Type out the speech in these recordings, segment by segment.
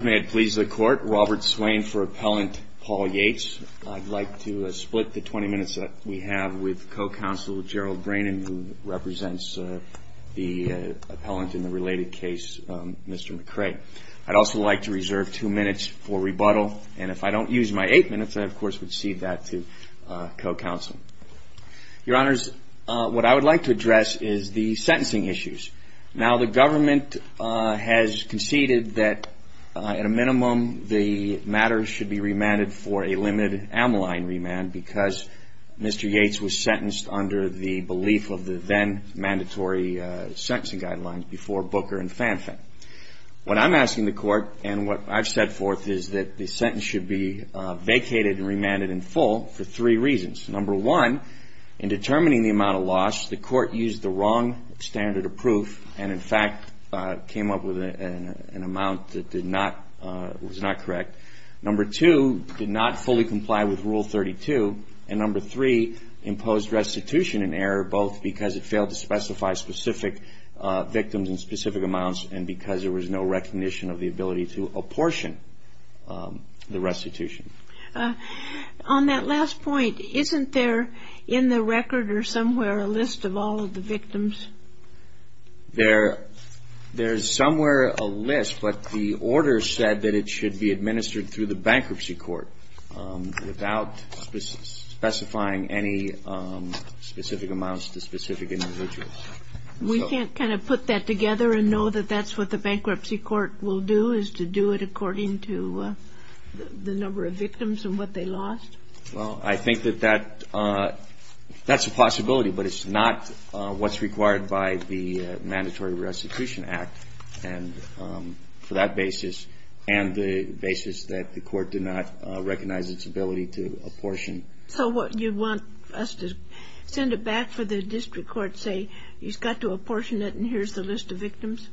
May it please the court, Robert Swain for appellant Paul Yates. I'd like to split the 20 minutes that we have with co-counsel Gerald Brannan, who represents the appellant in the related case, Mr. McCray. I'd also like to reserve two minutes for rebuttal, and if I don't use my eight minutes, I of course would cede that to co-counsel. Your honors, what I would like to address is the sentencing issues. Now the government has conceded that at a minimum the matter should be remanded for a limited amyline remand because Mr. Yates was sentenced under the belief of the then mandatory sentencing guidelines before Booker and Fanfan. What I'm asking the court and what I've set forth is that the sentence should be vacated and remanded in full for three reasons. Number one, in determining the amount of loss, the court used the wrong standard of proof and in fact came up with an amount that was not correct. Number two, did not fully comply with Rule 32, and number three, imposed restitution in error both because it failed to specify specific victims in specific amounts and because there was no recognition of the ability to apportion the restitution. On that last point, isn't there in the record or somewhere a list of all of the victims? There's somewhere a list, but the order said that it should be administered through the bankruptcy court without specifying any specific amounts to specific individuals. We can't kind of put that together and know that that's what the bankruptcy court will do, is to do it according to the number of victims and what they lost? Well, I think that that's a possibility, but it's not what's required by the Mandatory Restitution Act for that basis and the basis that the court did not recognize its ability to apportion. So you want us to send it back for the district court to say, you've got to apportion it and here's the list of victims?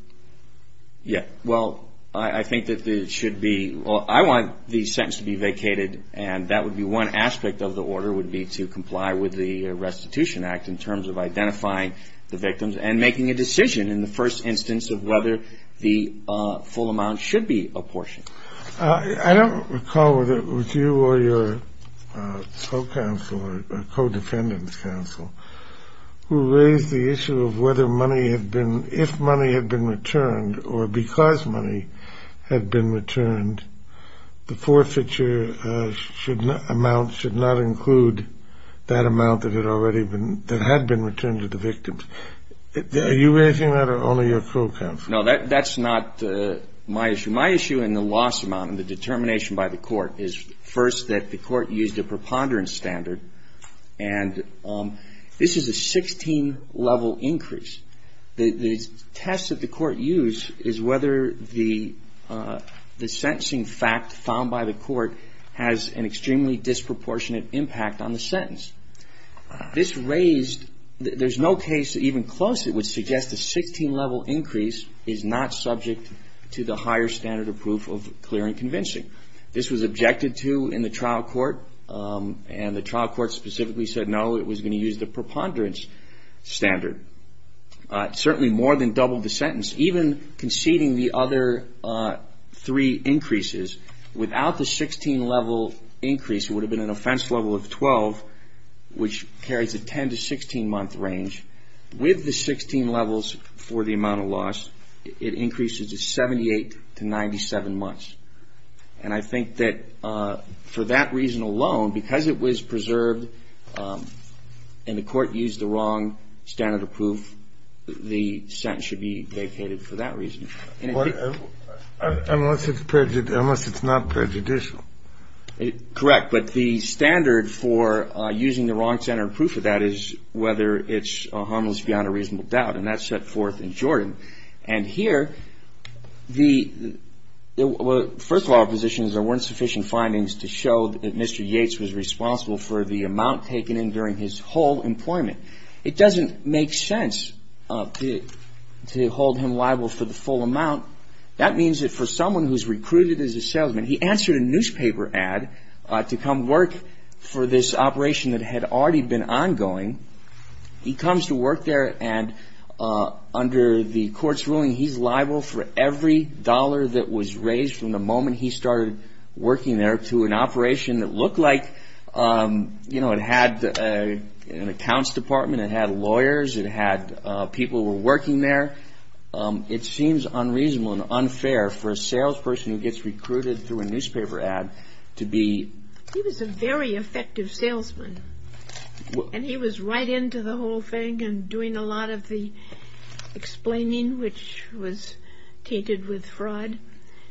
Yeah, well, I think that it should be, well, I want the sentence to be vacated and that would be one aspect of the order would be to comply with the Restitution Act in terms of identifying the victims and making a decision in the first instance of whether the full amount should be apportioned. I don't recall whether it was you or your co-counsel or co-defendant's counsel who raised the issue of whether money had been, if money had been returned or because money had been returned, the forfeiture amount should not include that amount that had been returned to the victims. Are you raising that or only your co-counsel? No, that's not my issue. My issue and the loss amount and the determination by the court is first that the court used a preponderance standard and this is a 16-level increase. The test that the court used is whether the sentencing fact found by the court has an extremely disproportionate impact on the sentence. This raised, there's no case even close that would suggest a 16-level increase is not subject to the higher standard of proof of clear and convincing. This was objected to in the trial court and the trial court specifically said no, it was going to use the preponderance standard. It certainly more than doubled the sentence, even conceding the other three increases. Without the 16-level increase, it would have been an offense level of 12, which carries a 10- to 16-month range. With the 16 levels for the amount of loss, it increases to 78 to 97 months. And I think that for that reason alone, because it was preserved and the court used the wrong standard of proof, the sentence should be vacated for that reason. Unless it's not prejudicial. Correct, but the standard for using the wrong standard of proof of that is whether it's a harmless beyond a reasonable doubt and that's set forth in Jordan. And here, first of all, our position is there weren't sufficient findings to show that Mr. Yates was responsible for the amount taken in during his whole employment. It doesn't make sense to hold him liable for the full amount. That means that for someone who's recruited as a salesman, he answered a newspaper ad to come work for this operation that had already been ongoing. He comes to work there and under the court's ruling, he's liable for every dollar that was raised from the moment he started working there to an operation that looked like, you know, it had an accounts department, it had lawyers, it had people who were working there. It seems unreasonable and unfair for a salesperson who gets recruited through a newspaper ad to be... Right into the whole thing and doing a lot of the explaining, which was tainted with fraud.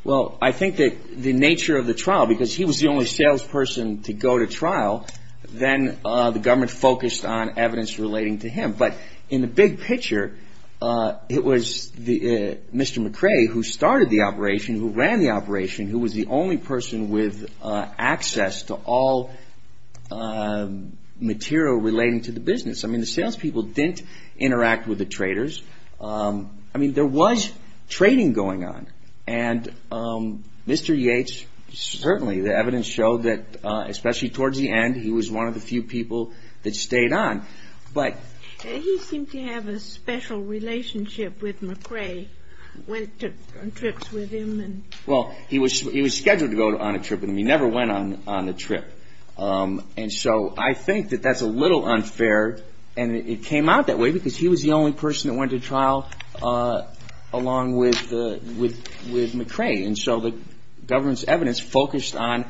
Well, I think that the nature of the trial, because he was the only salesperson to go to trial, then the government focused on evidence relating to him. But in the big picture, it was Mr. McRae who started the operation, who ran the operation, who was the only person with access to all material relating to the business. I mean, the salespeople didn't interact with the traders. I mean, there was trading going on and Mr. Yates, certainly the evidence showed that, especially towards the end, he was one of the few people that stayed on. He seemed to have a special relationship with McRae. Went on trips with him. Well, he was scheduled to go on a trip with him. He never went on the trip. And so I think that that's a little unfair and it came out that way because he was the only person that went to trial along with McRae. And so the government's evidence focused on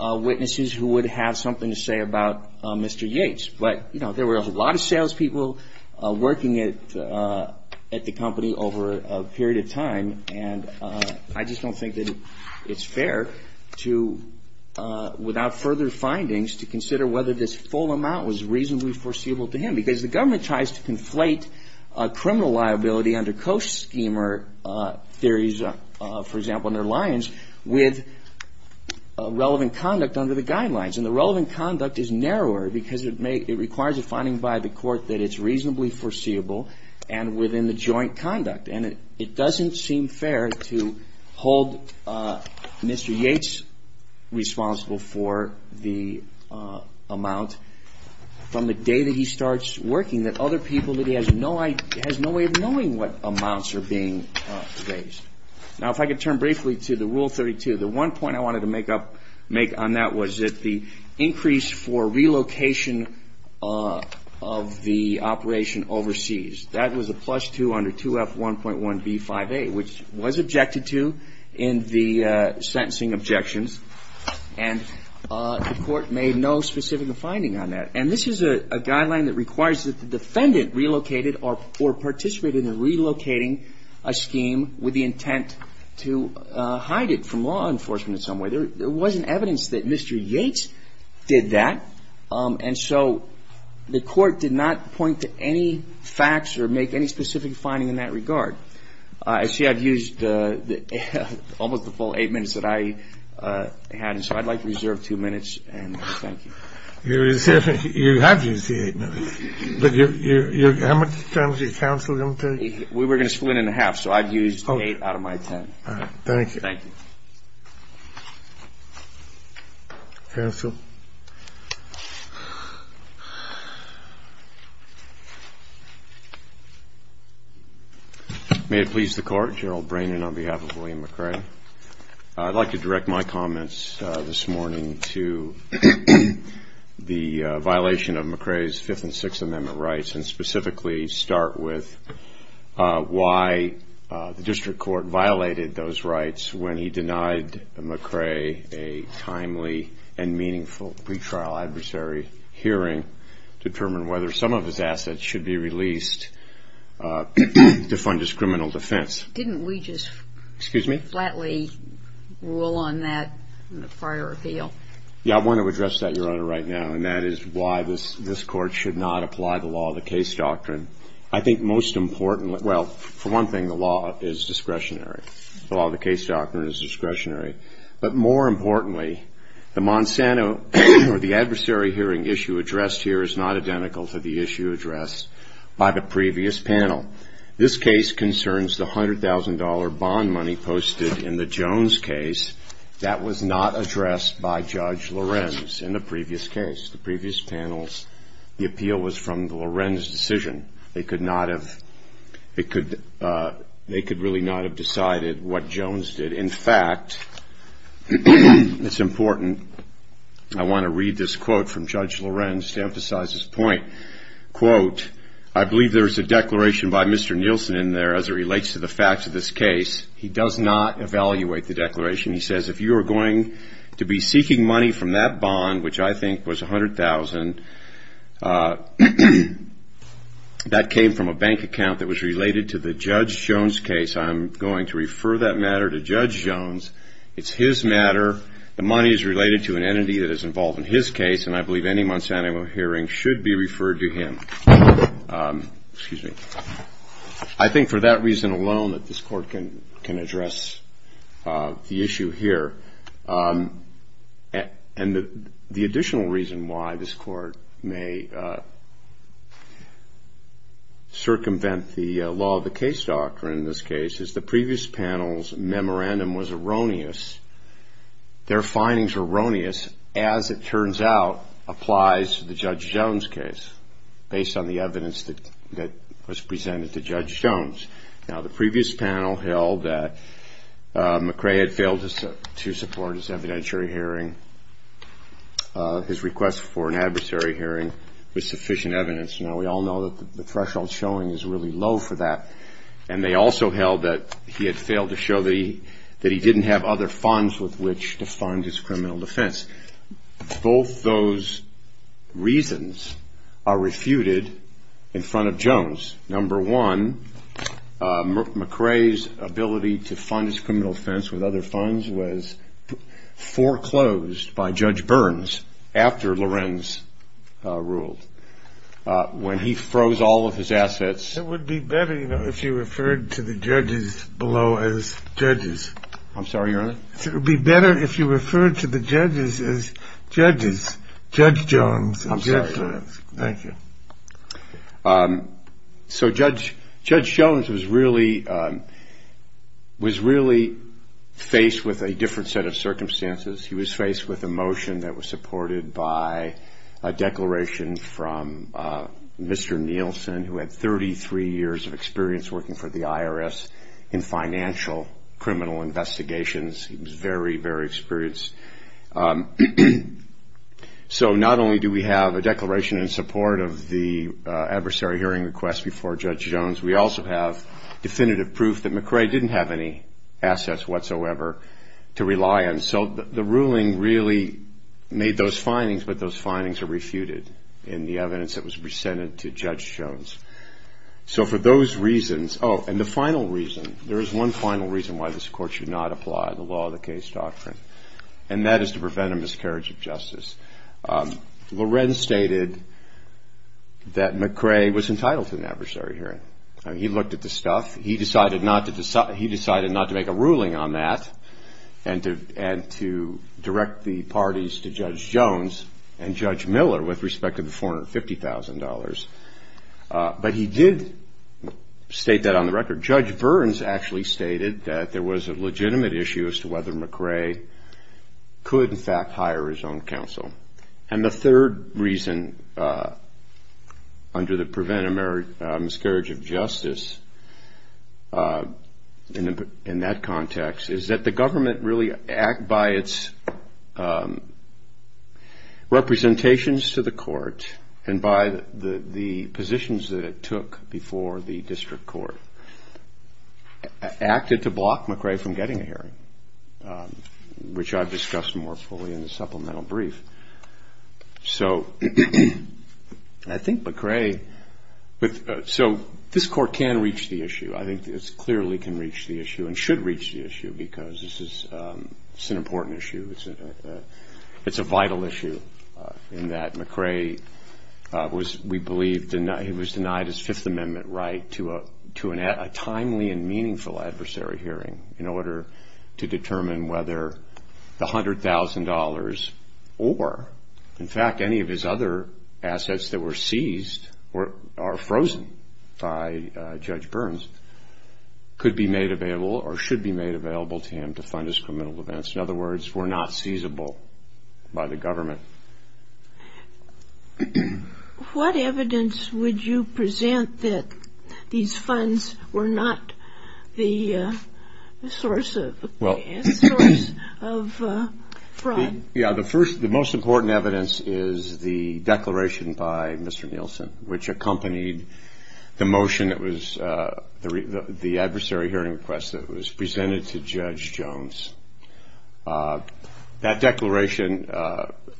witnesses who would have something to say about Mr. Yates. But, you know, there were a lot of salespeople working at the company over a period of time. And I just don't think that it's fair to, without further findings, to consider whether this full amount was reasonably foreseeable to him. Because the government tries to conflate criminal liability under co-schemer theories, for example, under Lyons, with relevant conduct under the guidelines. And the relevant conduct is narrower because it may, it requires a finding by the court that it's reasonably foreseeable and within the joint conduct. And it doesn't seem fair to hold Mr. Yates responsible for the amount from the day that he starts working that other people that he has no idea, has no way of knowing what amounts are being raised. Now, if I could turn briefly to the Rule 32. The one point I wanted to make on that was that the increase for relocation of the operation overseas, that was a plus two under 2F1.1B5A, which was objected to in the sentencing objections. And the court made no specific finding on that. And this is a guideline that requires that the defendant relocated or participated in relocating a scheme with the intent to hide it from law enforcement in some way. There wasn't evidence that Mr. Yates did that. And so the court did not point to any facts or make any specific finding in that regard. I see I've used almost the full eight minutes that I had. And so I'd like to reserve two minutes and thank you. You have used the eight minutes. How much time is your counsel going to take? We were going to split it in half, so I've used eight out of my ten. All right. Thank you. Thank you. Counsel. May it please the Court. I'm Gerald Brannon on behalf of William McRae. I'd like to direct my comments this morning to the violation of McRae's Fifth and Sixth Amendment rights and specifically start with why the district court violated those rights when he denied McRae a timely and meaningful pretrial adversary hearing to determine whether some of his assets should be released to fund his criminal defense. Didn't we just flatly rule on that in the prior appeal? Yeah, I want to address that, Your Honor, right now, and that is why this Court should not apply the law of the case doctrine. I think most importantly – well, for one thing, the law is discretionary. The law of the case doctrine is discretionary. But more importantly, the Monsanto or the adversary hearing issue addressed here is not identical to the issue addressed by the previous panel. This case concerns the $100,000 bond money posted in the Jones case. That was not addressed by Judge Lorenz in the previous case. The previous panel's appeal was from Lorenz's decision. They could really not have decided what Jones did. In fact, it's important. I want to read this quote from Judge Lorenz to emphasize his point. Quote, I believe there is a declaration by Mr. Nielsen in there as it relates to the facts of this case. He does not evaluate the declaration. He says, if you are going to be seeking money from that bond, which I think was $100,000, that came from a bank account that was related to the Judge Jones case. I'm going to refer that matter to Judge Jones. It's his matter. The money is related to an entity that is involved in his case, and I believe any Monsanto hearing should be referred to him. Excuse me. I think for that reason alone that this Court can address the issue here. And the additional reason why this Court may circumvent the law of the case doctrine in this case is the previous panel's memorandum was erroneous. Their findings were erroneous, as it turns out applies to the Judge Jones case, based on the evidence that was presented to Judge Jones. Now, the previous panel held that McRae had failed to support his evidentiary hearing, his request for an adversary hearing with sufficient evidence. Now, we all know that the threshold showing is really low for that, and they also held that he had failed to show that he didn't have other funds with which to fund his criminal defense. Both those reasons are refuted in front of Jones. Number one, McRae's ability to fund his criminal defense with other funds was foreclosed by Judge Burns after Lorenz ruled. When he froze all of his assets... It would be better if you referred to the judges below as judges. I'm sorry, Your Honor? It would be better if you referred to the judges as judges, Judge Jones and Judge Lorenz. Thank you. So Judge Jones was really faced with a different set of circumstances. He was faced with a motion that was supported by a declaration from Mr. Nielsen, who had 33 years of experience working for the IRS in financial criminal investigations. He was very, very experienced. So not only do we have a declaration in support of the adversary hearing request before Judge Jones, we also have definitive proof that McRae didn't have any assets whatsoever to rely on. So the ruling really made those findings, but those findings are refuted in the evidence that was presented to Judge Jones. So for those reasons... Oh, and the final reason, there is one final reason why this court should not apply the law of the case doctrine, and that is to prevent a miscarriage of justice. Lorenz stated that McRae was entitled to an adversary hearing. He looked at the stuff. He decided not to make a ruling on that and to direct the parties to Judge Jones and Judge Miller with respect to the $450,000. But he did state that on the record. Judge Burns actually stated that there was a legitimate issue as to whether McRae could, in fact, hire his own counsel. And the third reason, under the prevent a miscarriage of justice in that context, is that the government really, by its representations to the court and by the positions that it took before the district court, acted to block McRae from getting a hearing, which I've discussed more fully in the supplemental brief. I think this clearly can reach the issue and should reach the issue because this is an important issue. It's a vital issue in that McRae was, we believe, denied his Fifth Amendment right to a timely and meaningful adversary hearing in order to determine whether the $100,000 or, in fact, any of his other assets that were seized or are frozen by Judge Burns could be made available or should be made available to him to fund his criminal events. In other words, were not seizable by the government. What evidence would you present that these funds were not the source of fraud? Yeah, the first, the most important evidence is the declaration by Mr. Nielsen, which accompanied the motion that was the adversary hearing request that was presented to Judge Jones. That declaration,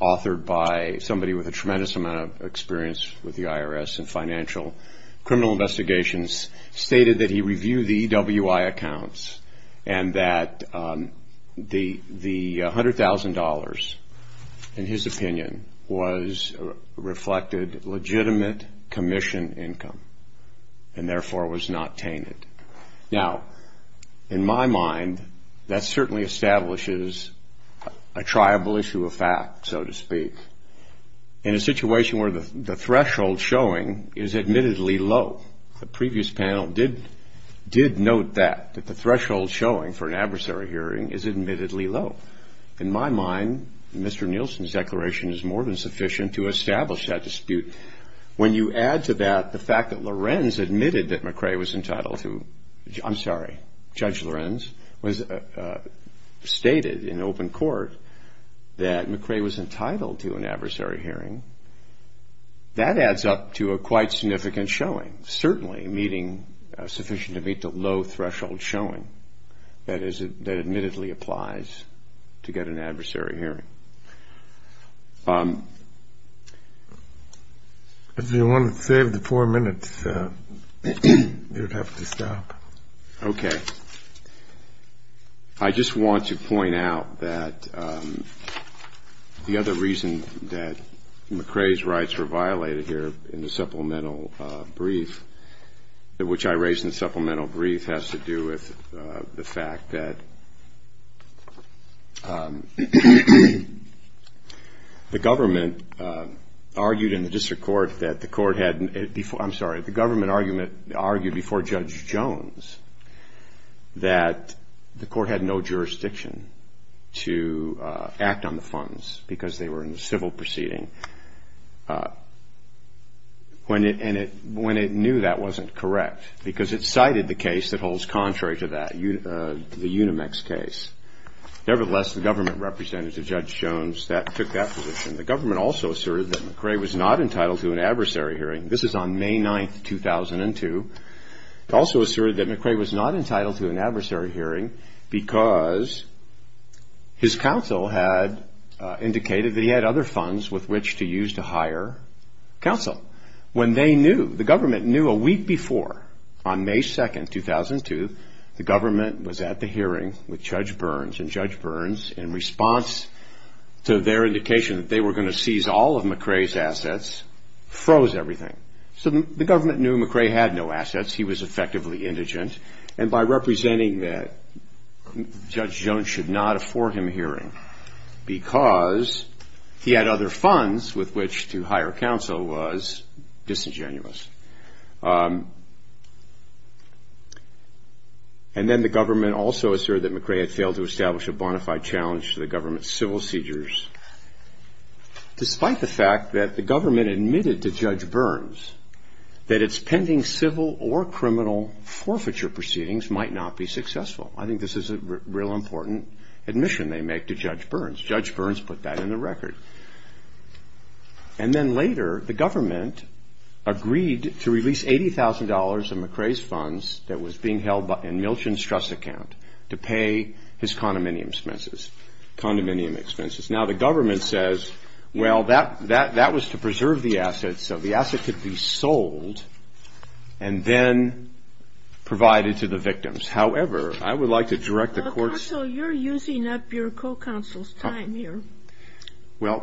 authored by somebody with a tremendous amount of experience with the IRS and financial criminal investigations, stated that he reviewed the EWI accounts and that the $100,000, in his opinion, was reflected legitimate commission income and, therefore, was not tainted. Now, in my mind, that certainly establishes a triable issue of fact, so to speak. In a situation where the threshold showing is admittedly low, the previous panel did note that, that the threshold showing for an adversary hearing is admittedly low. In my mind, Mr. Nielsen's declaration is more than sufficient to establish that dispute. When you add to that the fact that Lorenz admitted that McCrae was entitled to, I'm sorry, Judge Lorenz, stated in open court that McCrae was entitled to an adversary hearing, that adds up to a quite significant showing, certainly sufficient to meet the low threshold showing that admittedly applies to get an adversary hearing. If you want to save the four minutes, you'd have to stop. Okay. I just want to point out that the other reason that McCrae's rights were violated here in the supplemental brief, which I raised in the supplemental brief, has to do with the fact that the government argued in the district court that the court had, I'm sorry, the government argued before Judge Jones that the court had no jurisdiction to act on the funds because they were in a civil proceeding. And it knew that wasn't correct because it cited the case that holds contrary to that, the Unimex case. Nevertheless, the government representative, Judge Jones, took that position. The government also asserted that McCrae was not entitled to an adversary hearing. This is on May 9th, 2002. It also asserted that McCrae was not entitled to an adversary hearing because his counsel had indicated that he had other funds with which to use to hire counsel. When they knew, the government knew a week before on May 2nd, 2002, the government was at the hearing with Judge Burns and Judge Burns, in response to their indication that they were going to seize all of McCrae's assets, froze everything. So the government knew McCrae had no assets. He was effectively indigent. And by representing that, Judge Jones should not afford him a hearing because he had other funds with which to hire counsel was disingenuous. And then the government also asserted that McCrae had failed to establish a bona fide challenge to the government's civil seizures. Despite the fact that the government admitted to Judge Burns that its pending civil or criminal forfeiture proceedings might not be successful. I think this is a real important admission they make to Judge Burns. Judge Burns put that in the record. And then later, the government agreed to release $80,000 of McCrae's funds that was being held in Milton's trust account to pay his condominium expenses. Now, the government says, well, that was to preserve the assets, so the asset could be sold and then provided to the victims. However, I would like to direct the courts. Counsel, you're using up your co-counsel's time here. Well,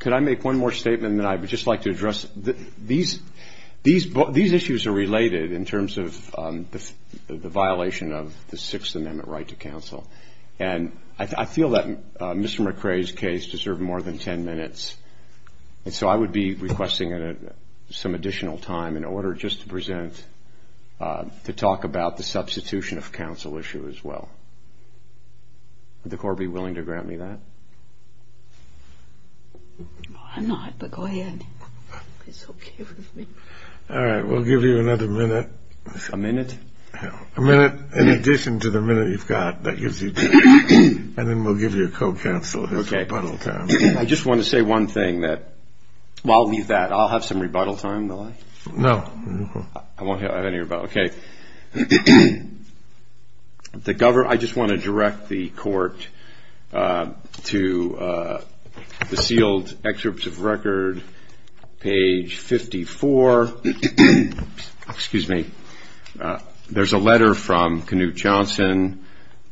could I make one more statement that I would just like to address? These issues are related in terms of the violation of the Sixth Amendment right to counsel. And I feel that Mr. McCrae's case deserved more than 10 minutes. And so I would be requesting some additional time in order just to present, to talk about the substitution of counsel issue as well. Would the court be willing to grant me that? I'm not, but go ahead. It's okay with me. All right. We'll give you another minute. A minute? A minute in addition to the minute you've got. That gives you two. And then we'll give you a co-counsel as rebuttal time. Okay. I just want to say one thing. Well, I'll leave that. I'll have some rebuttal time, will I? No. I won't have any rebuttal. Okay. I just want to direct the court to the sealed excerpts of record, page 54. Excuse me. There's a letter from Knute Johnson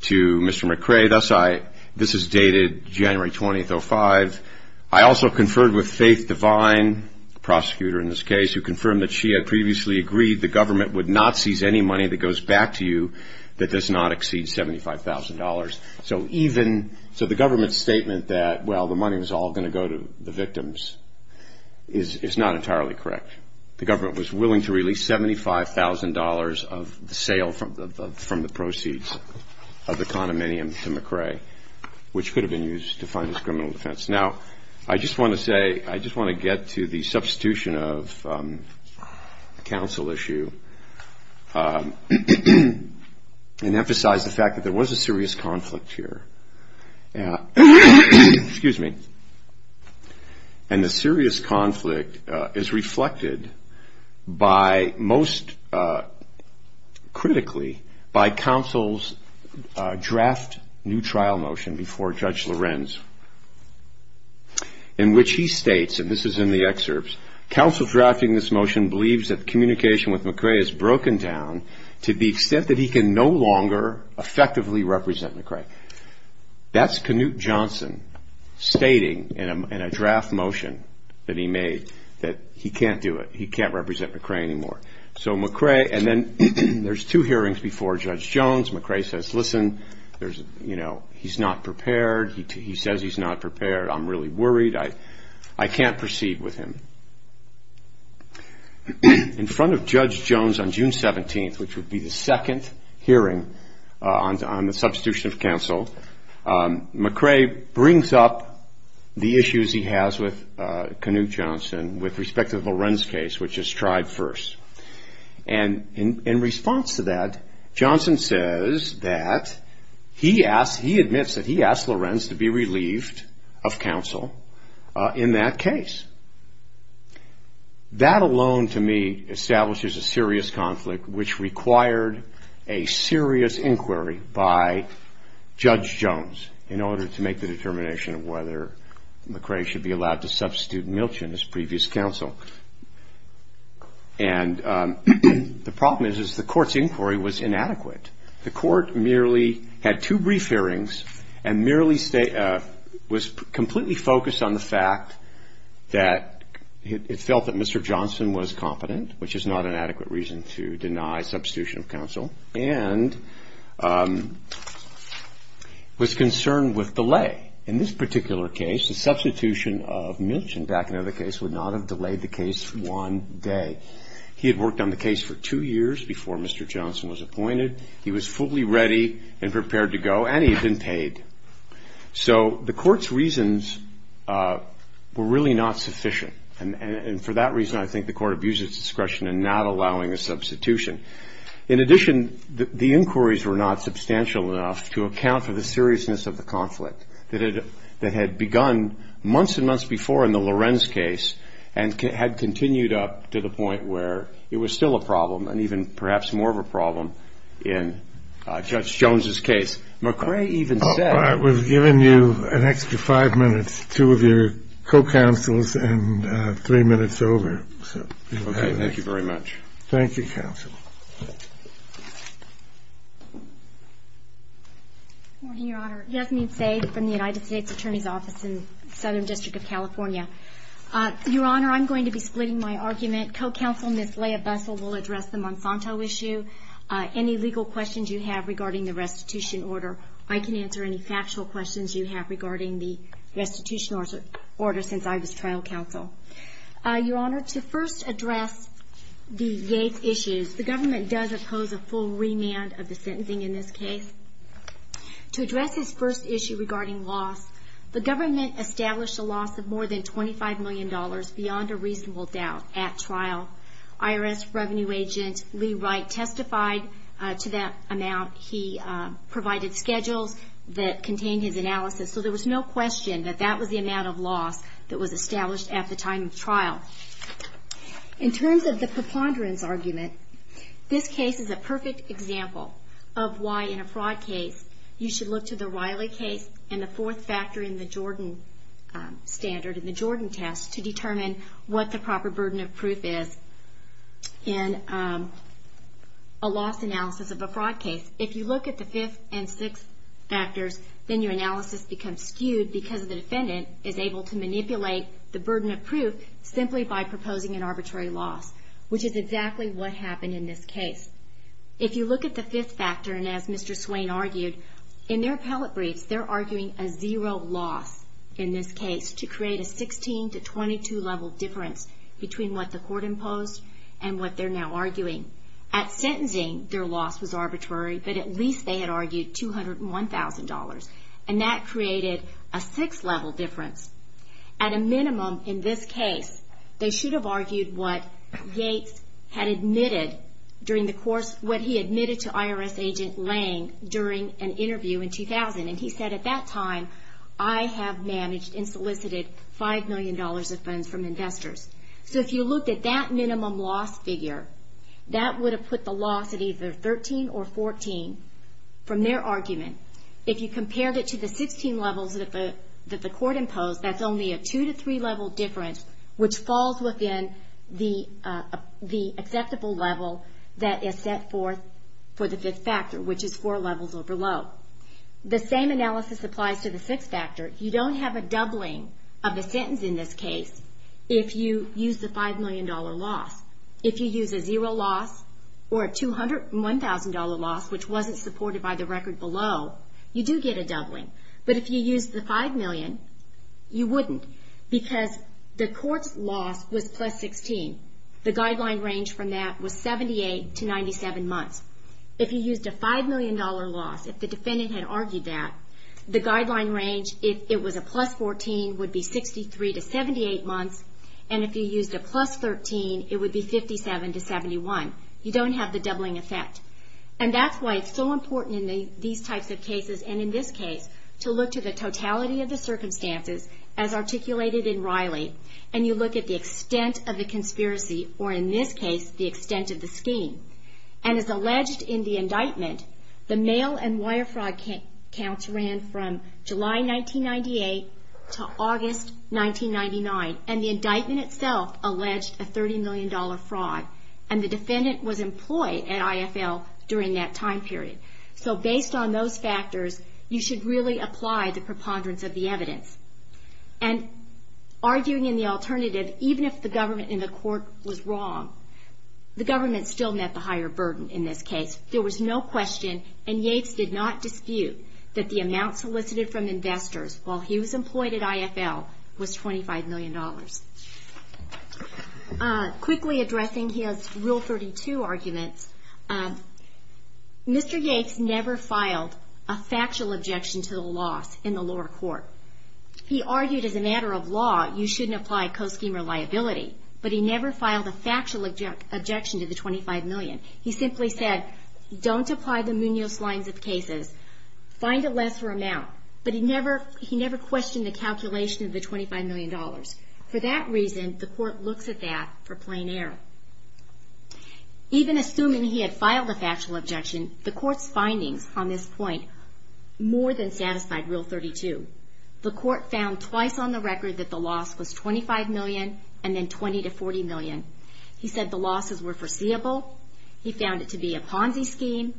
to Mr. McCrae. This is dated January 20th, 2005. I also conferred with Faith Devine, the prosecutor in this case, to confirm that she had previously agreed the government would not seize any money that goes back to you that does not exceed $75,000. So the government's statement that, well, the money was all going to go to the victims is not entirely correct. The government was willing to release $75,000 of the sale from the proceeds of the condominium to McCrae, which could have been used to fund his criminal defense. Now, I just want to say, I just want to get to the substitution of counsel issue and emphasize the fact that there was a serious conflict here. Excuse me. And the serious conflict is reflected by most critically by counsel's draft new trial motion before Judge Lorenz, in which he states, and this is in the excerpts, counsel drafting this motion believes that communication with McCrae is broken down to the extent that he can no longer effectively represent McCrae. That's Knute Johnson stating in a draft motion that he made that he can't do it. He can't represent McCrae anymore. So McCrae, and then there's two hearings before Judge Jones. McCrae says, listen, he's not prepared. He says he's not prepared. I'm really worried. I can't proceed with him. In front of Judge Jones on June 17th, which would be the second hearing on the substitution of counsel, McCrae brings up the issues he has with Knute Johnson with respect to the Lorenz case, which is tried first. And in response to that, Johnson says that he asked, that he asked Lorenz to be relieved of counsel in that case. That alone to me establishes a serious conflict which required a serious inquiry by Judge Jones in order to make the determination of whether McCrae should be allowed to substitute Milch in his previous counsel. And the problem is, is the court's inquiry was inadequate. The court merely had two brief hearings and merely was completely focused on the fact that it felt that Mr. Johnson was competent, which is not an adequate reason to deny substitution of counsel, and was concerned with delay. In this particular case, the substitution of Milch, and back in another case, would not have delayed the case one day. He had worked on the case for two years before Mr. Johnson was appointed. He was fully ready and prepared to go, and he had been paid. So the court's reasons were really not sufficient. And for that reason, I think the court abused its discretion in not allowing a substitution. In addition, the inquiries were not substantial enough to account for the seriousness of the conflict that had begun months and months before in the Lorenz case, and had continued up to the point where it was still a problem, and even perhaps more of a problem in Judge Jones's case. McCrae even said that he had been paid. We've given you an extra five minutes, two of your co-counsels, and three minutes over. Okay. Thank you very much. Thank you, counsel. Good morning, Your Honor. Yasmin Saeed from the United States Attorney's Office in Southern District of California. Your Honor, I'm going to be splitting my argument. Co-counsel Ms. Leah Bessel will address the Monsanto issue. Any legal questions you have regarding the restitution order, I can answer any factual questions you have regarding the restitution order since I was trial counsel. Your Honor, to first address the Yates issues, the government does oppose a full remand of the sentencing in this case. To address his first issue regarding loss, the government established a loss of more than $25 million, beyond a reasonable doubt, at trial. IRS Revenue Agent Lee Wright testified to that amount. He provided schedules that contained his analysis, so there was no question that that was the amount of loss that was established at the time of trial. In terms of the preponderance argument, this case is a perfect example of why, in a fraud case, you should look to the Riley case and the fourth factor in the Jordan standard, in the Jordan test, to determine what the proper burden of proof is in a loss analysis of a fraud case. If you look at the fifth and sixth factors, then your analysis becomes skewed because the defendant is able to manipulate the burden of proof simply by proposing an arbitrary loss, which is exactly what happened in this case. If you look at the fifth factor, and as Mr. Swain argued, in their appellate briefs, they're arguing a zero loss in this case to create a 16 to 22 level difference between what the court imposed and what they're now arguing. At sentencing, their loss was arbitrary, but at least they had argued $201,000, and that created a six level difference. At a minimum, in this case, they should have argued what Gates had admitted during the course, what he admitted to IRS agent Lang during an interview in 2000, and he said, at that time, I have managed and solicited $5 million of funds from investors. So if you looked at that minimum loss figure, that would have put the loss at either 13 or 14 from their argument. If you compared it to the 16 levels that the court imposed, that's only a two to three level difference, which falls within the acceptable level that is set forth for the fifth factor, which is four levels or below. The same analysis applies to the sixth factor. You don't have a doubling of the sentence in this case if you use the $5 million loss. If you use a zero loss or a $201,000 loss, which wasn't supported by the record below, you do get a doubling. But if you use the $5 million, you wouldn't, because the court's loss was plus 16. The guideline range from that was 78 to 97 months. If you used a $5 million loss, if the defendant had argued that, the guideline range, if it was a plus 14, would be 63 to 78 months, and if you used a plus 13, it would be 57 to 71. You don't have the doubling effect. And that's why it's so important in these types of cases, and in this case, to look to the totality of the circumstances as articulated in Riley, and you look at the extent of the conspiracy, or in this case, the extent of the scheme. And as alleged in the indictment, the mail and wire fraud counts ran from July 1998 to August 1999, and the indictment itself alleged a $30 million fraud, and the defendant was employed at IFL during that time period. So based on those factors, you should really apply the preponderance of the evidence. And arguing in the alternative, even if the government in the court was wrong, the government still met the higher burden in this case. There was no question, and Yates did not dispute, that the amount solicited from investors while he was employed at IFL was $25 million. Quickly addressing his Rule 32 arguments, Mr. Yates never filed a factual objection to the loss in the lower court. He argued as a matter of law, you shouldn't apply co-scheme or liability, but he never filed a factual objection to the $25 million. He simply said, don't apply the Munoz lines of cases. Find a lesser amount. But he never questioned the calculation of the $25 million. For that reason, the court looks at that for plain error. Even assuming he had filed a factual objection, the court's findings on this point more than satisfied Rule 32. The court found twice on the record that the loss was $25 million and then $20 to $40 million. He said the losses were foreseeable. He found it to be a Ponzi scheme.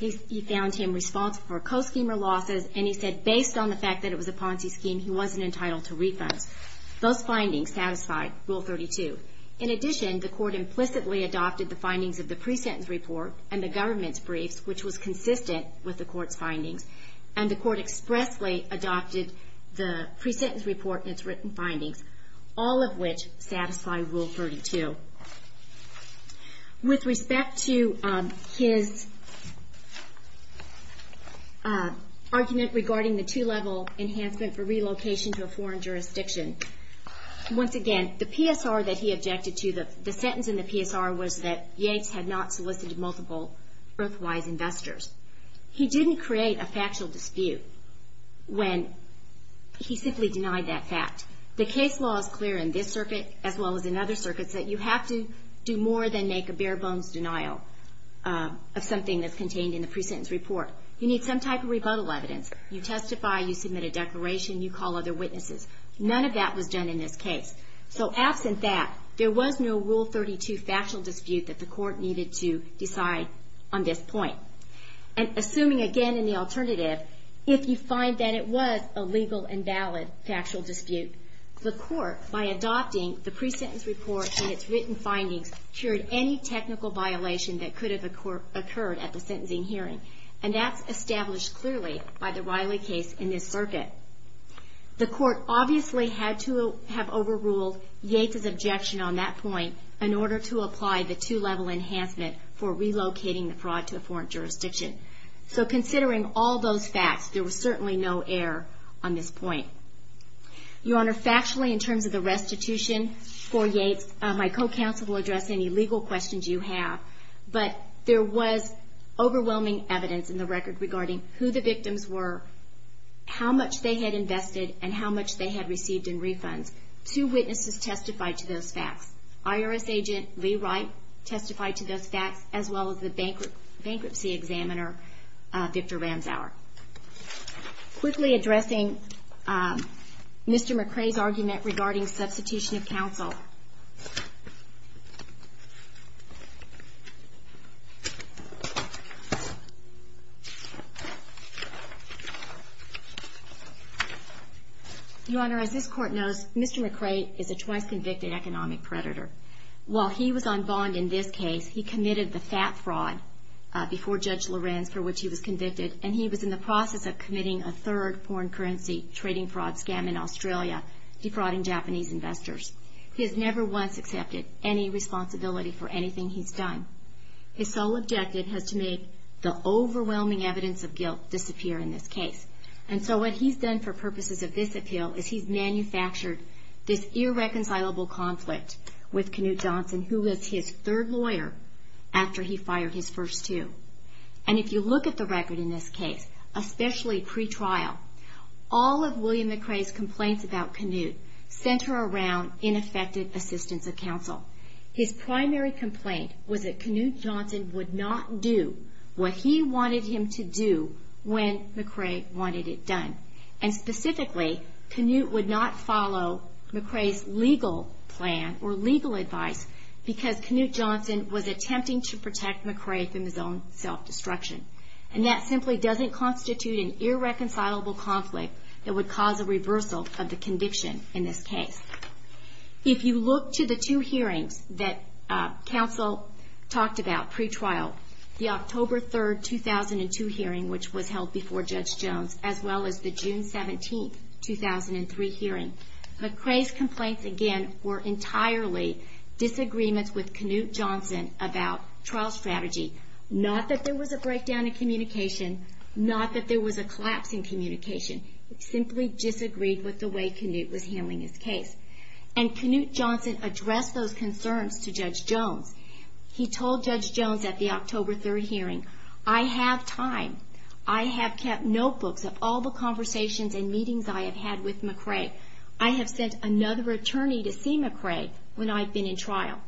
He found him responsible for co-schemer losses, and he said based on the fact that it was a Ponzi scheme, he wasn't entitled to refunds. Those findings satisfied Rule 32. In addition, the court implicitly adopted the findings of the pre-sentence report and the government's briefs, which was consistent with the court's findings, and the court expressly adopted the pre-sentence report and its written findings, all of which satisfy Rule 32. With respect to his argument regarding the two-level enhancement for relocation to a foreign jurisdiction, once again, the PSR that he objected to, the sentence in the PSR, was that Yanks had not solicited multiple EarthWise investors. He didn't create a factual dispute when he simply denied that fact. The case law is clear in this circuit as well as in other circuits that you have to do more than make a bare-bones denial of something that's contained in the pre-sentence report. You need some type of rebuttal evidence. You testify, you submit a declaration, you call other witnesses. None of that was done in this case. So absent that, there was no Rule 32 factual dispute that the court needed to decide on this point. Assuming again in the alternative, if you find that it was a legal and valid factual dispute, the court, by adopting the pre-sentence report and its written findings, cured any technical violation that could have occurred at the sentencing hearing. And that's established clearly by the Riley case in this circuit. The court obviously had to have overruled Yates' objection on that point in order to apply the two-level enhancement for relocating the fraud to a foreign jurisdiction. So considering all those facts, there was certainly no error on this point. Your Honor, factually in terms of the restitution for Yates, my co-counsel will address any legal questions you have, but there was overwhelming evidence in the record regarding who the victims were, how much they had invested, and how much they had received in refunds. Two witnesses testified to those facts. IRS agent Lee Wright testified to those facts, as well as the bankruptcy examiner Victor Ramsauer. Quickly addressing Mr. McCrae's argument regarding substitution of counsel. Your Honor, as this Court knows, Mr. McCrae is a twice-convicted economic predator. While he was on bond in this case, he committed the fat fraud before Judge Lorenz, for which he was convicted, and he was in the process of committing a third foreign currency trading fraud scam in Australia, defrauding Japanese investors. He has never won the case. He has never once accepted any responsibility for anything he's done. His sole objective has to make the overwhelming evidence of guilt disappear in this case. And so what he's done for purposes of this appeal is he's manufactured this irreconcilable conflict with Knute Johnson, who was his third lawyer after he fired his first two. And if you look at the record in this case, especially pre-trial, all of William McCrae's complaints about Knute center around ineffective assistance of counsel. His primary complaint was that Knute Johnson would not do what he wanted him to do when McCrae wanted it done. And specifically, Knute would not follow McCrae's legal plan or legal advice because Knute Johnson was attempting to protect McCrae from his own self-destruction. And that simply doesn't constitute an irreconcilable conflict that would cause a reversal of the conviction in this case. If you look to the two hearings that counsel talked about pre-trial, the October 3, 2002 hearing, which was held before Judge Jones, as well as the June 17, 2003 hearing, McCrae's complaints, again, were entirely disagreements with Knute Johnson about trial strategy. Not that there was a breakdown in communication, not that there was a collapse in communication. It simply disagreed with the way Knute was handling his case. And Knute Johnson addressed those concerns to Judge Jones. He told Judge Jones at the October 3 hearing, I have time. I have kept notebooks of all the conversations and meetings I have had with McCrae. I have sent another attorney to see McCrae when I've been in trial.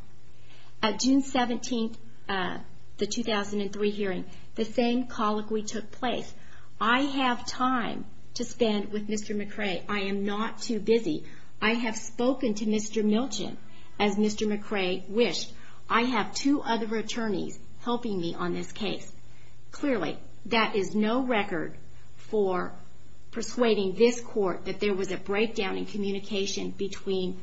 At June 17, the 2003 hearing, the same colloquy took place. I have time to spend with Mr. McCrae. I am not too busy. I have spoken to Mr. Milchin, as Mr. McCrae wished. I have two other attorneys helping me on this case. Clearly, that is no record for persuading this court that there was a breakdown in communication between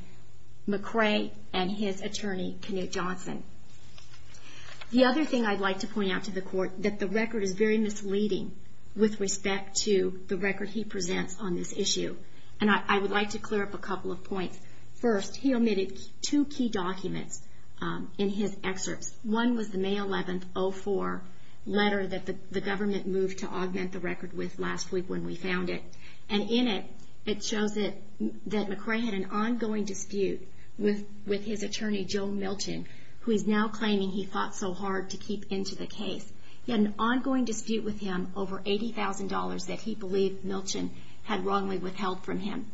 McCrae and his attorney, Knute Johnson. The other thing I'd like to point out to the court, that the record is very misleading with respect to the record he presents on this issue. And I would like to clear up a couple of points. First, he omitted two key documents in his excerpts. One was the May 11, 2004 letter that the government moved to augment the record with last week when we found it. And in it, it shows that McCrae had an ongoing dispute with his attorney, Joe Milchin, who is now claiming he fought so hard to keep into the case. He had an ongoing dispute with him over $80,000 that he believed Milchin had wrongly withheld from him.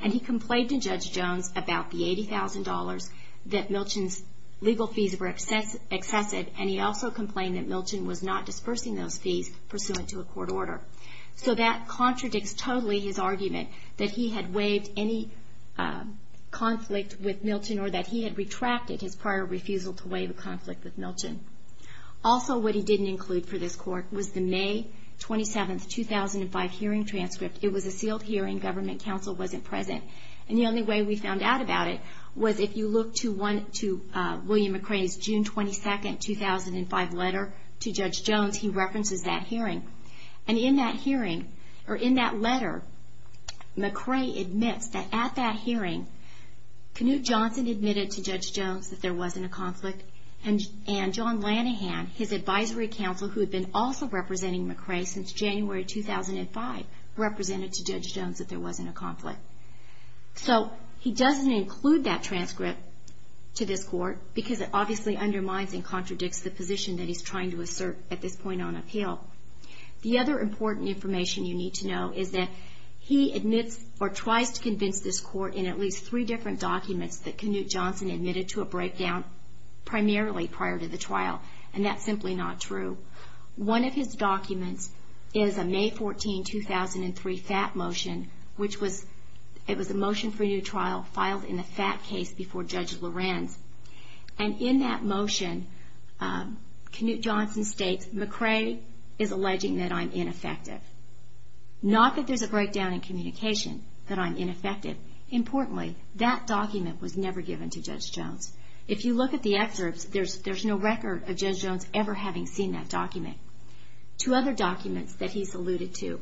And he complained to Judge Jones about the $80,000, that Milchin's legal fees were excessive, and he also complained that Milchin was not dispersing those fees pursuant to a court order. So that contradicts totally his argument that he had waived any conflict with Milchin or that he had retracted his prior refusal to waive a conflict with Milchin. Also, what he didn't include for this court was the May 27, 2005 hearing transcript. It was a sealed hearing. Government counsel wasn't present. And the only way we found out about it was if you look to William McCrae's June 22, 2005 letter to Judge Jones, because he references that hearing. And in that hearing, or in that letter, McCrae admits that at that hearing, Knute Johnson admitted to Judge Jones that there wasn't a conflict, and John Lanahan, his advisory counsel, who had been also representing McCrae since January 2005, represented to Judge Jones that there wasn't a conflict. So he doesn't include that transcript to this court, because it obviously undermines and contradicts the position that he's trying to assert at this point on appeal. The other important information you need to know is that he admits or tries to convince this court in at least three different documents that Knute Johnson admitted to a breakdown, primarily prior to the trial, and that's simply not true. One of his documents is a May 14, 2003 FAT motion, which was a motion for a new trial filed in the FAT case before Judge Lorenz. And in that motion, Knute Johnson states, McCrae is alleging that I'm ineffective. Not that there's a breakdown in communication, that I'm ineffective. Importantly, that document was never given to Judge Jones. If you look at the excerpts, there's no record of Judge Jones ever having seen that document. Two other documents that he's alluded to.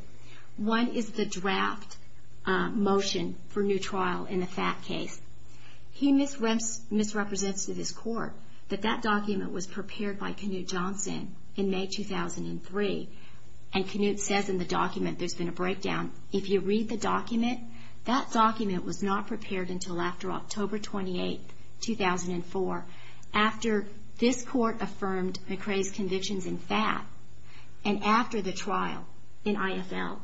One is the draft motion for new trial in the FAT case. He misrepresents to this court that that document was prepared by Knute Johnson in May 2003, and Knute says in the document there's been a breakdown. If you read the document, that document was not prepared until after October 28, 2004, after this court affirmed McCrae's convictions in FAT and after the trial in IFL.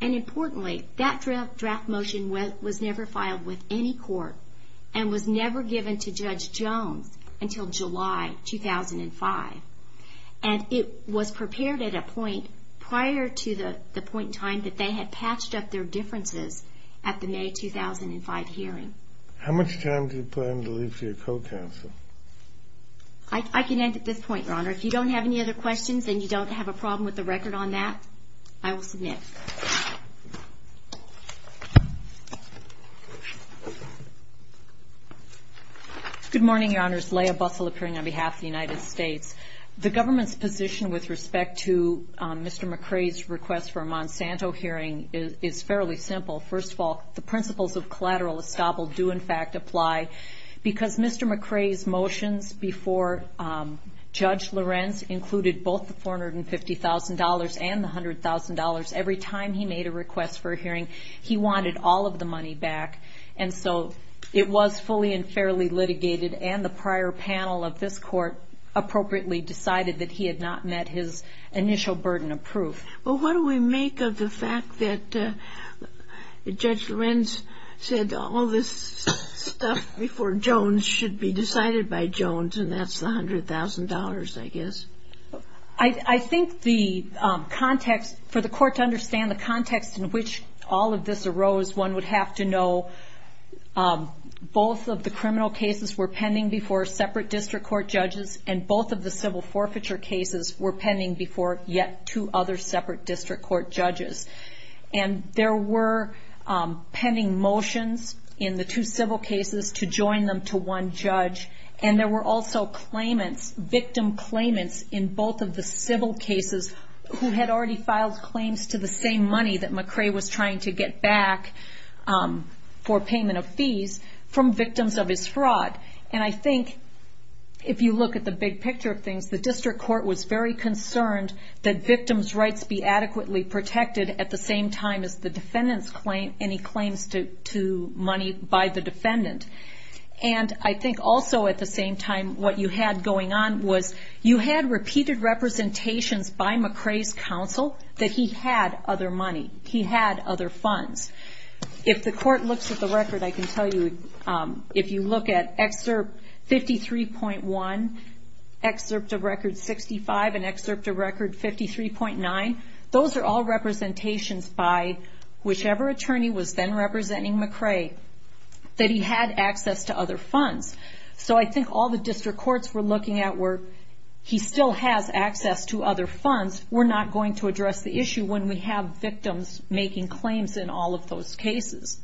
And importantly, that draft motion was never filed with any court and was never given to Judge Jones until July 2005. And it was prepared at a point prior to the point in time that they had patched up their differences at the May 2005 hearing. How much time do you plan to leave to your co-counsel? I can end at this point, Your Honor. If you don't have any other questions and you don't have a problem with the record on that, I will submit. Good morning, Your Honors. Leah Bussell appearing on behalf of the United States. The government's position with respect to Mr. McCrae's request for a Monsanto hearing is fairly simple. First of all, the principles of collateral estoppel do in fact apply because Mr. McCrae's motions before Judge Lorenz included both the $450,000 and the $100,000. Every time he made a request for a hearing, he wanted all of the money back. And so it was fully and fairly litigated, and the prior panel of this court appropriately decided that he had not met his initial burden of proof. Well, what do we make of the fact that Judge Lorenz said all this stuff before Jones should be decided by Jones, and that's the $100,000, I guess? I think for the court to understand the context in which all of this arose, one would have to know both of the criminal cases were pending before separate district court judges, and both of the civil forfeiture cases were pending before yet two other separate district court judges. And there were pending motions in the two civil cases to join them to one judge, and there were also claimants, victim claimants in both of the civil cases who had already filed claims to the same money that McCrae was trying to get back for payment of fees from victims of his fraud. And I think if you look at the big picture of things, the district court was very concerned that victims' rights be adequately protected at the same time as the defendant's claim any claims to money by the defendant. And I think also at the same time what you had going on was you had repeated representations by McCrae's counsel that he had other money, he had other funds. If the court looks at the record, I can tell you, if you look at Excerpt 53.1, Excerpt of Record 65, and Excerpt of Record 53.9, those are all representations by whichever attorney was then representing McCrae that he had access to other funds. So I think all the district courts were looking at were, he still has access to other funds, we're not going to address the issue when we have victims making claims in all of those cases.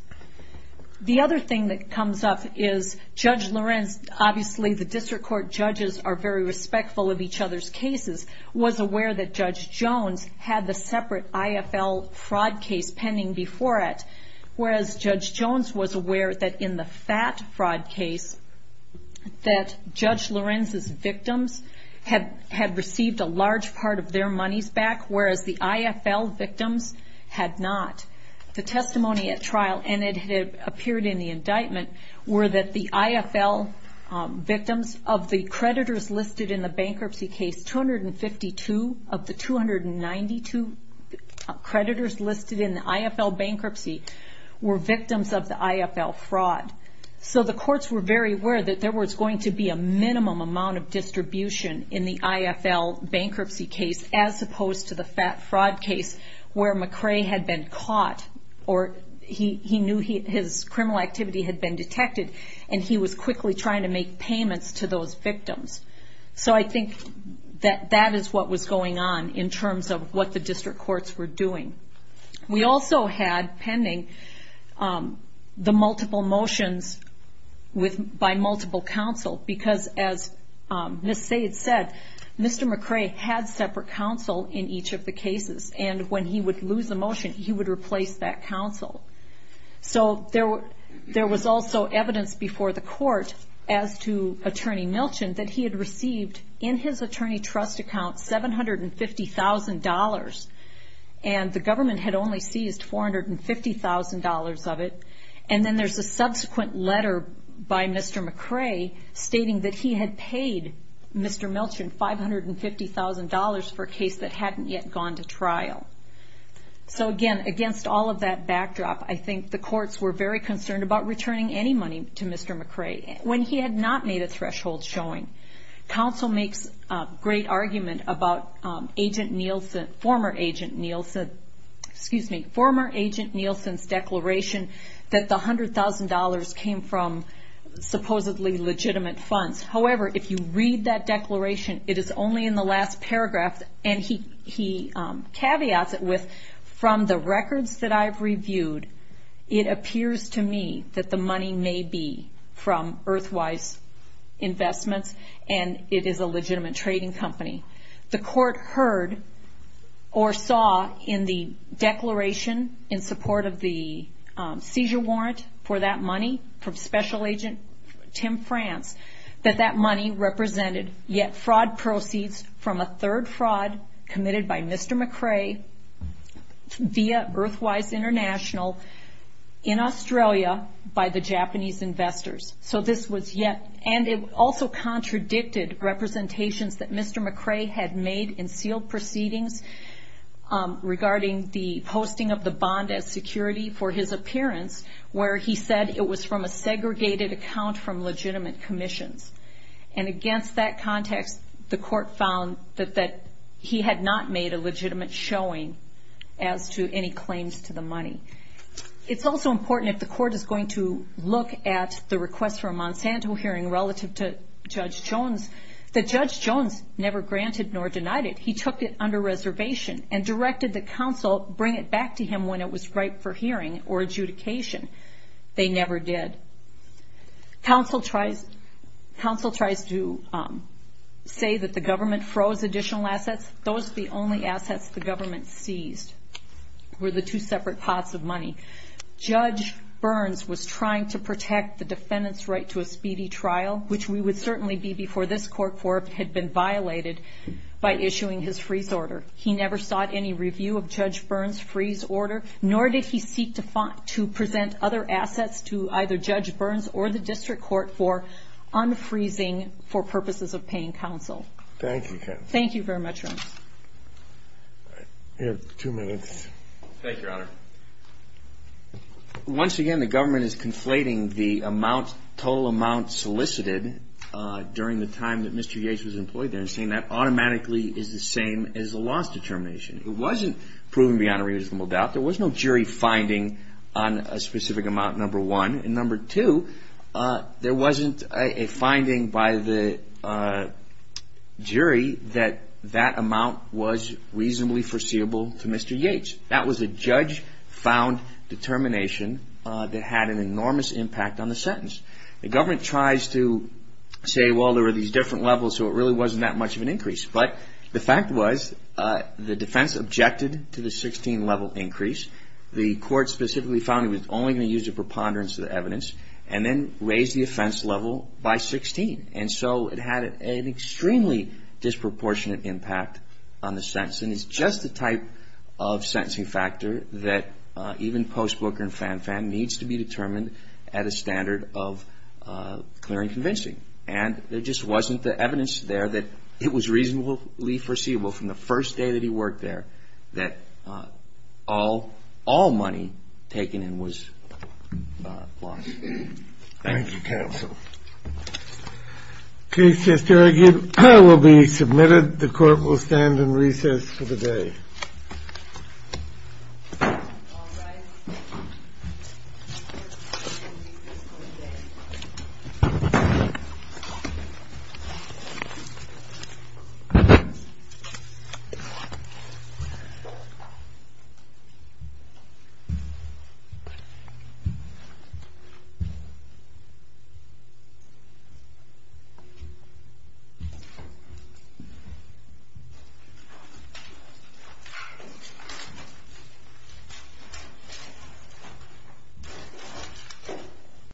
The other thing that comes up is Judge Lorenz, obviously the district court judges are very respectful of each other's cases, was aware that Judge Jones had the separate IFL fraud case pending before it, whereas Judge Jones was aware that in the FAT fraud case that Judge Lorenz's victims had received a large part of their monies back, whereas the IFL victims had not. The testimony at trial, and it had appeared in the indictment, were that the IFL victims of the creditors listed in the bankruptcy case, 252 of the 292 creditors listed in the IFL bankruptcy were victims of the IFL fraud. So the courts were very aware that there was going to be a minimum amount of distribution in the IFL bankruptcy case, as opposed to the FAT fraud case where McCrae had been caught, or he knew his criminal activity had been detected, and he was quickly trying to make payments to those victims. So I think that that is what was going on in terms of what the district courts were doing. We also had, pending, the multiple motions by multiple counsel, because as Ms. Sayeds said, Mr. McCrae had separate counsel in each of the cases, and when he would lose a motion, he would replace that counsel. So there was also evidence before the court as to Attorney Milchen that he had received, in his attorney trust account, $750,000, and the government had only seized $450,000 of it, and then there's a subsequent letter by Mr. McCrae stating that he had paid Mr. Milchen $550,000 for a case that hadn't yet gone to trial. So again, against all of that backdrop, I think the courts were very concerned about returning any money to Mr. McCrae. When he had not made a threshold showing, counsel makes a great argument about agent Nielsen, former agent Nielsen's declaration that the $100,000 came from supposedly legitimate funds. However, if you read that declaration, it is only in the last paragraph, and he caveats it with, from the records that I've reviewed, it appears to me that the money may be from Earthwise Investments, and it is a legitimate trading company. The court heard or saw in the declaration in support of the seizure warrant for that money from Special Agent Tim France that that money represented yet fraud proceeds from a third fraud committed by Mr. McCrae via Earthwise International in Australia by the Japanese investors. So this was yet, and it also contradicted representations that Mr. McCrae had made in sealed proceedings regarding the posting of the bond as security for his appearance, where he said it was from a segregated account from legitimate commissions. And against that context, the court found that he had not made a legitimate showing as to any claims to the money. It's also important, if the court is going to look at the request for a Monsanto hearing relative to Judge Jones, that Judge Jones never granted nor denied it. He took it under reservation and directed the counsel bring it back to him when it was ripe for hearing or adjudication. They never did. Counsel tries to say that the government froze additional assets. Those are the only assets the government seized, were the two separate pots of money. Judge Burns was trying to protect the defendant's right to a speedy trial, which we would certainly be before this court had been violated by issuing his freeze order. He never sought any review of Judge Burns' freeze order, nor did he seek to present other assets to either Judge Burns or the district court for unfreezing for purposes of paying counsel. Thank you, counsel. Thank you very much, Ron. You have two minutes. Thank you, Your Honor. Once again, the government is conflating the total amount solicited during the time that Mr. Yates was employed there and saying that automatically is the same as the loss determination. It wasn't proven beyond a reasonable doubt. There was no jury finding on a specific amount, number one. And number two, there wasn't a finding by the jury that that amount was reasonably foreseeable to Mr. Yates. That was a judge-found determination that had an enormous impact on the sentence. The government tries to say, well, there were these different levels, so it really wasn't that much of an increase. But the fact was the defense objected to the 16-level increase. The court specifically found it was only going to use a preponderance of the evidence and then raised the offense level by 16. And so it had an extremely disproportionate impact on the sentence. And it's just the type of sentencing factor that even Post Booker and Fan Fan needs to be determined at a standard of clear and convincing. And there just wasn't the evidence there that it was reasonably foreseeable from the first day that he worked there that all money taken in was lost. Thank you. Thank you, counsel. The case is argued. It will be submitted. The court will stand in recess for the day. Thank you.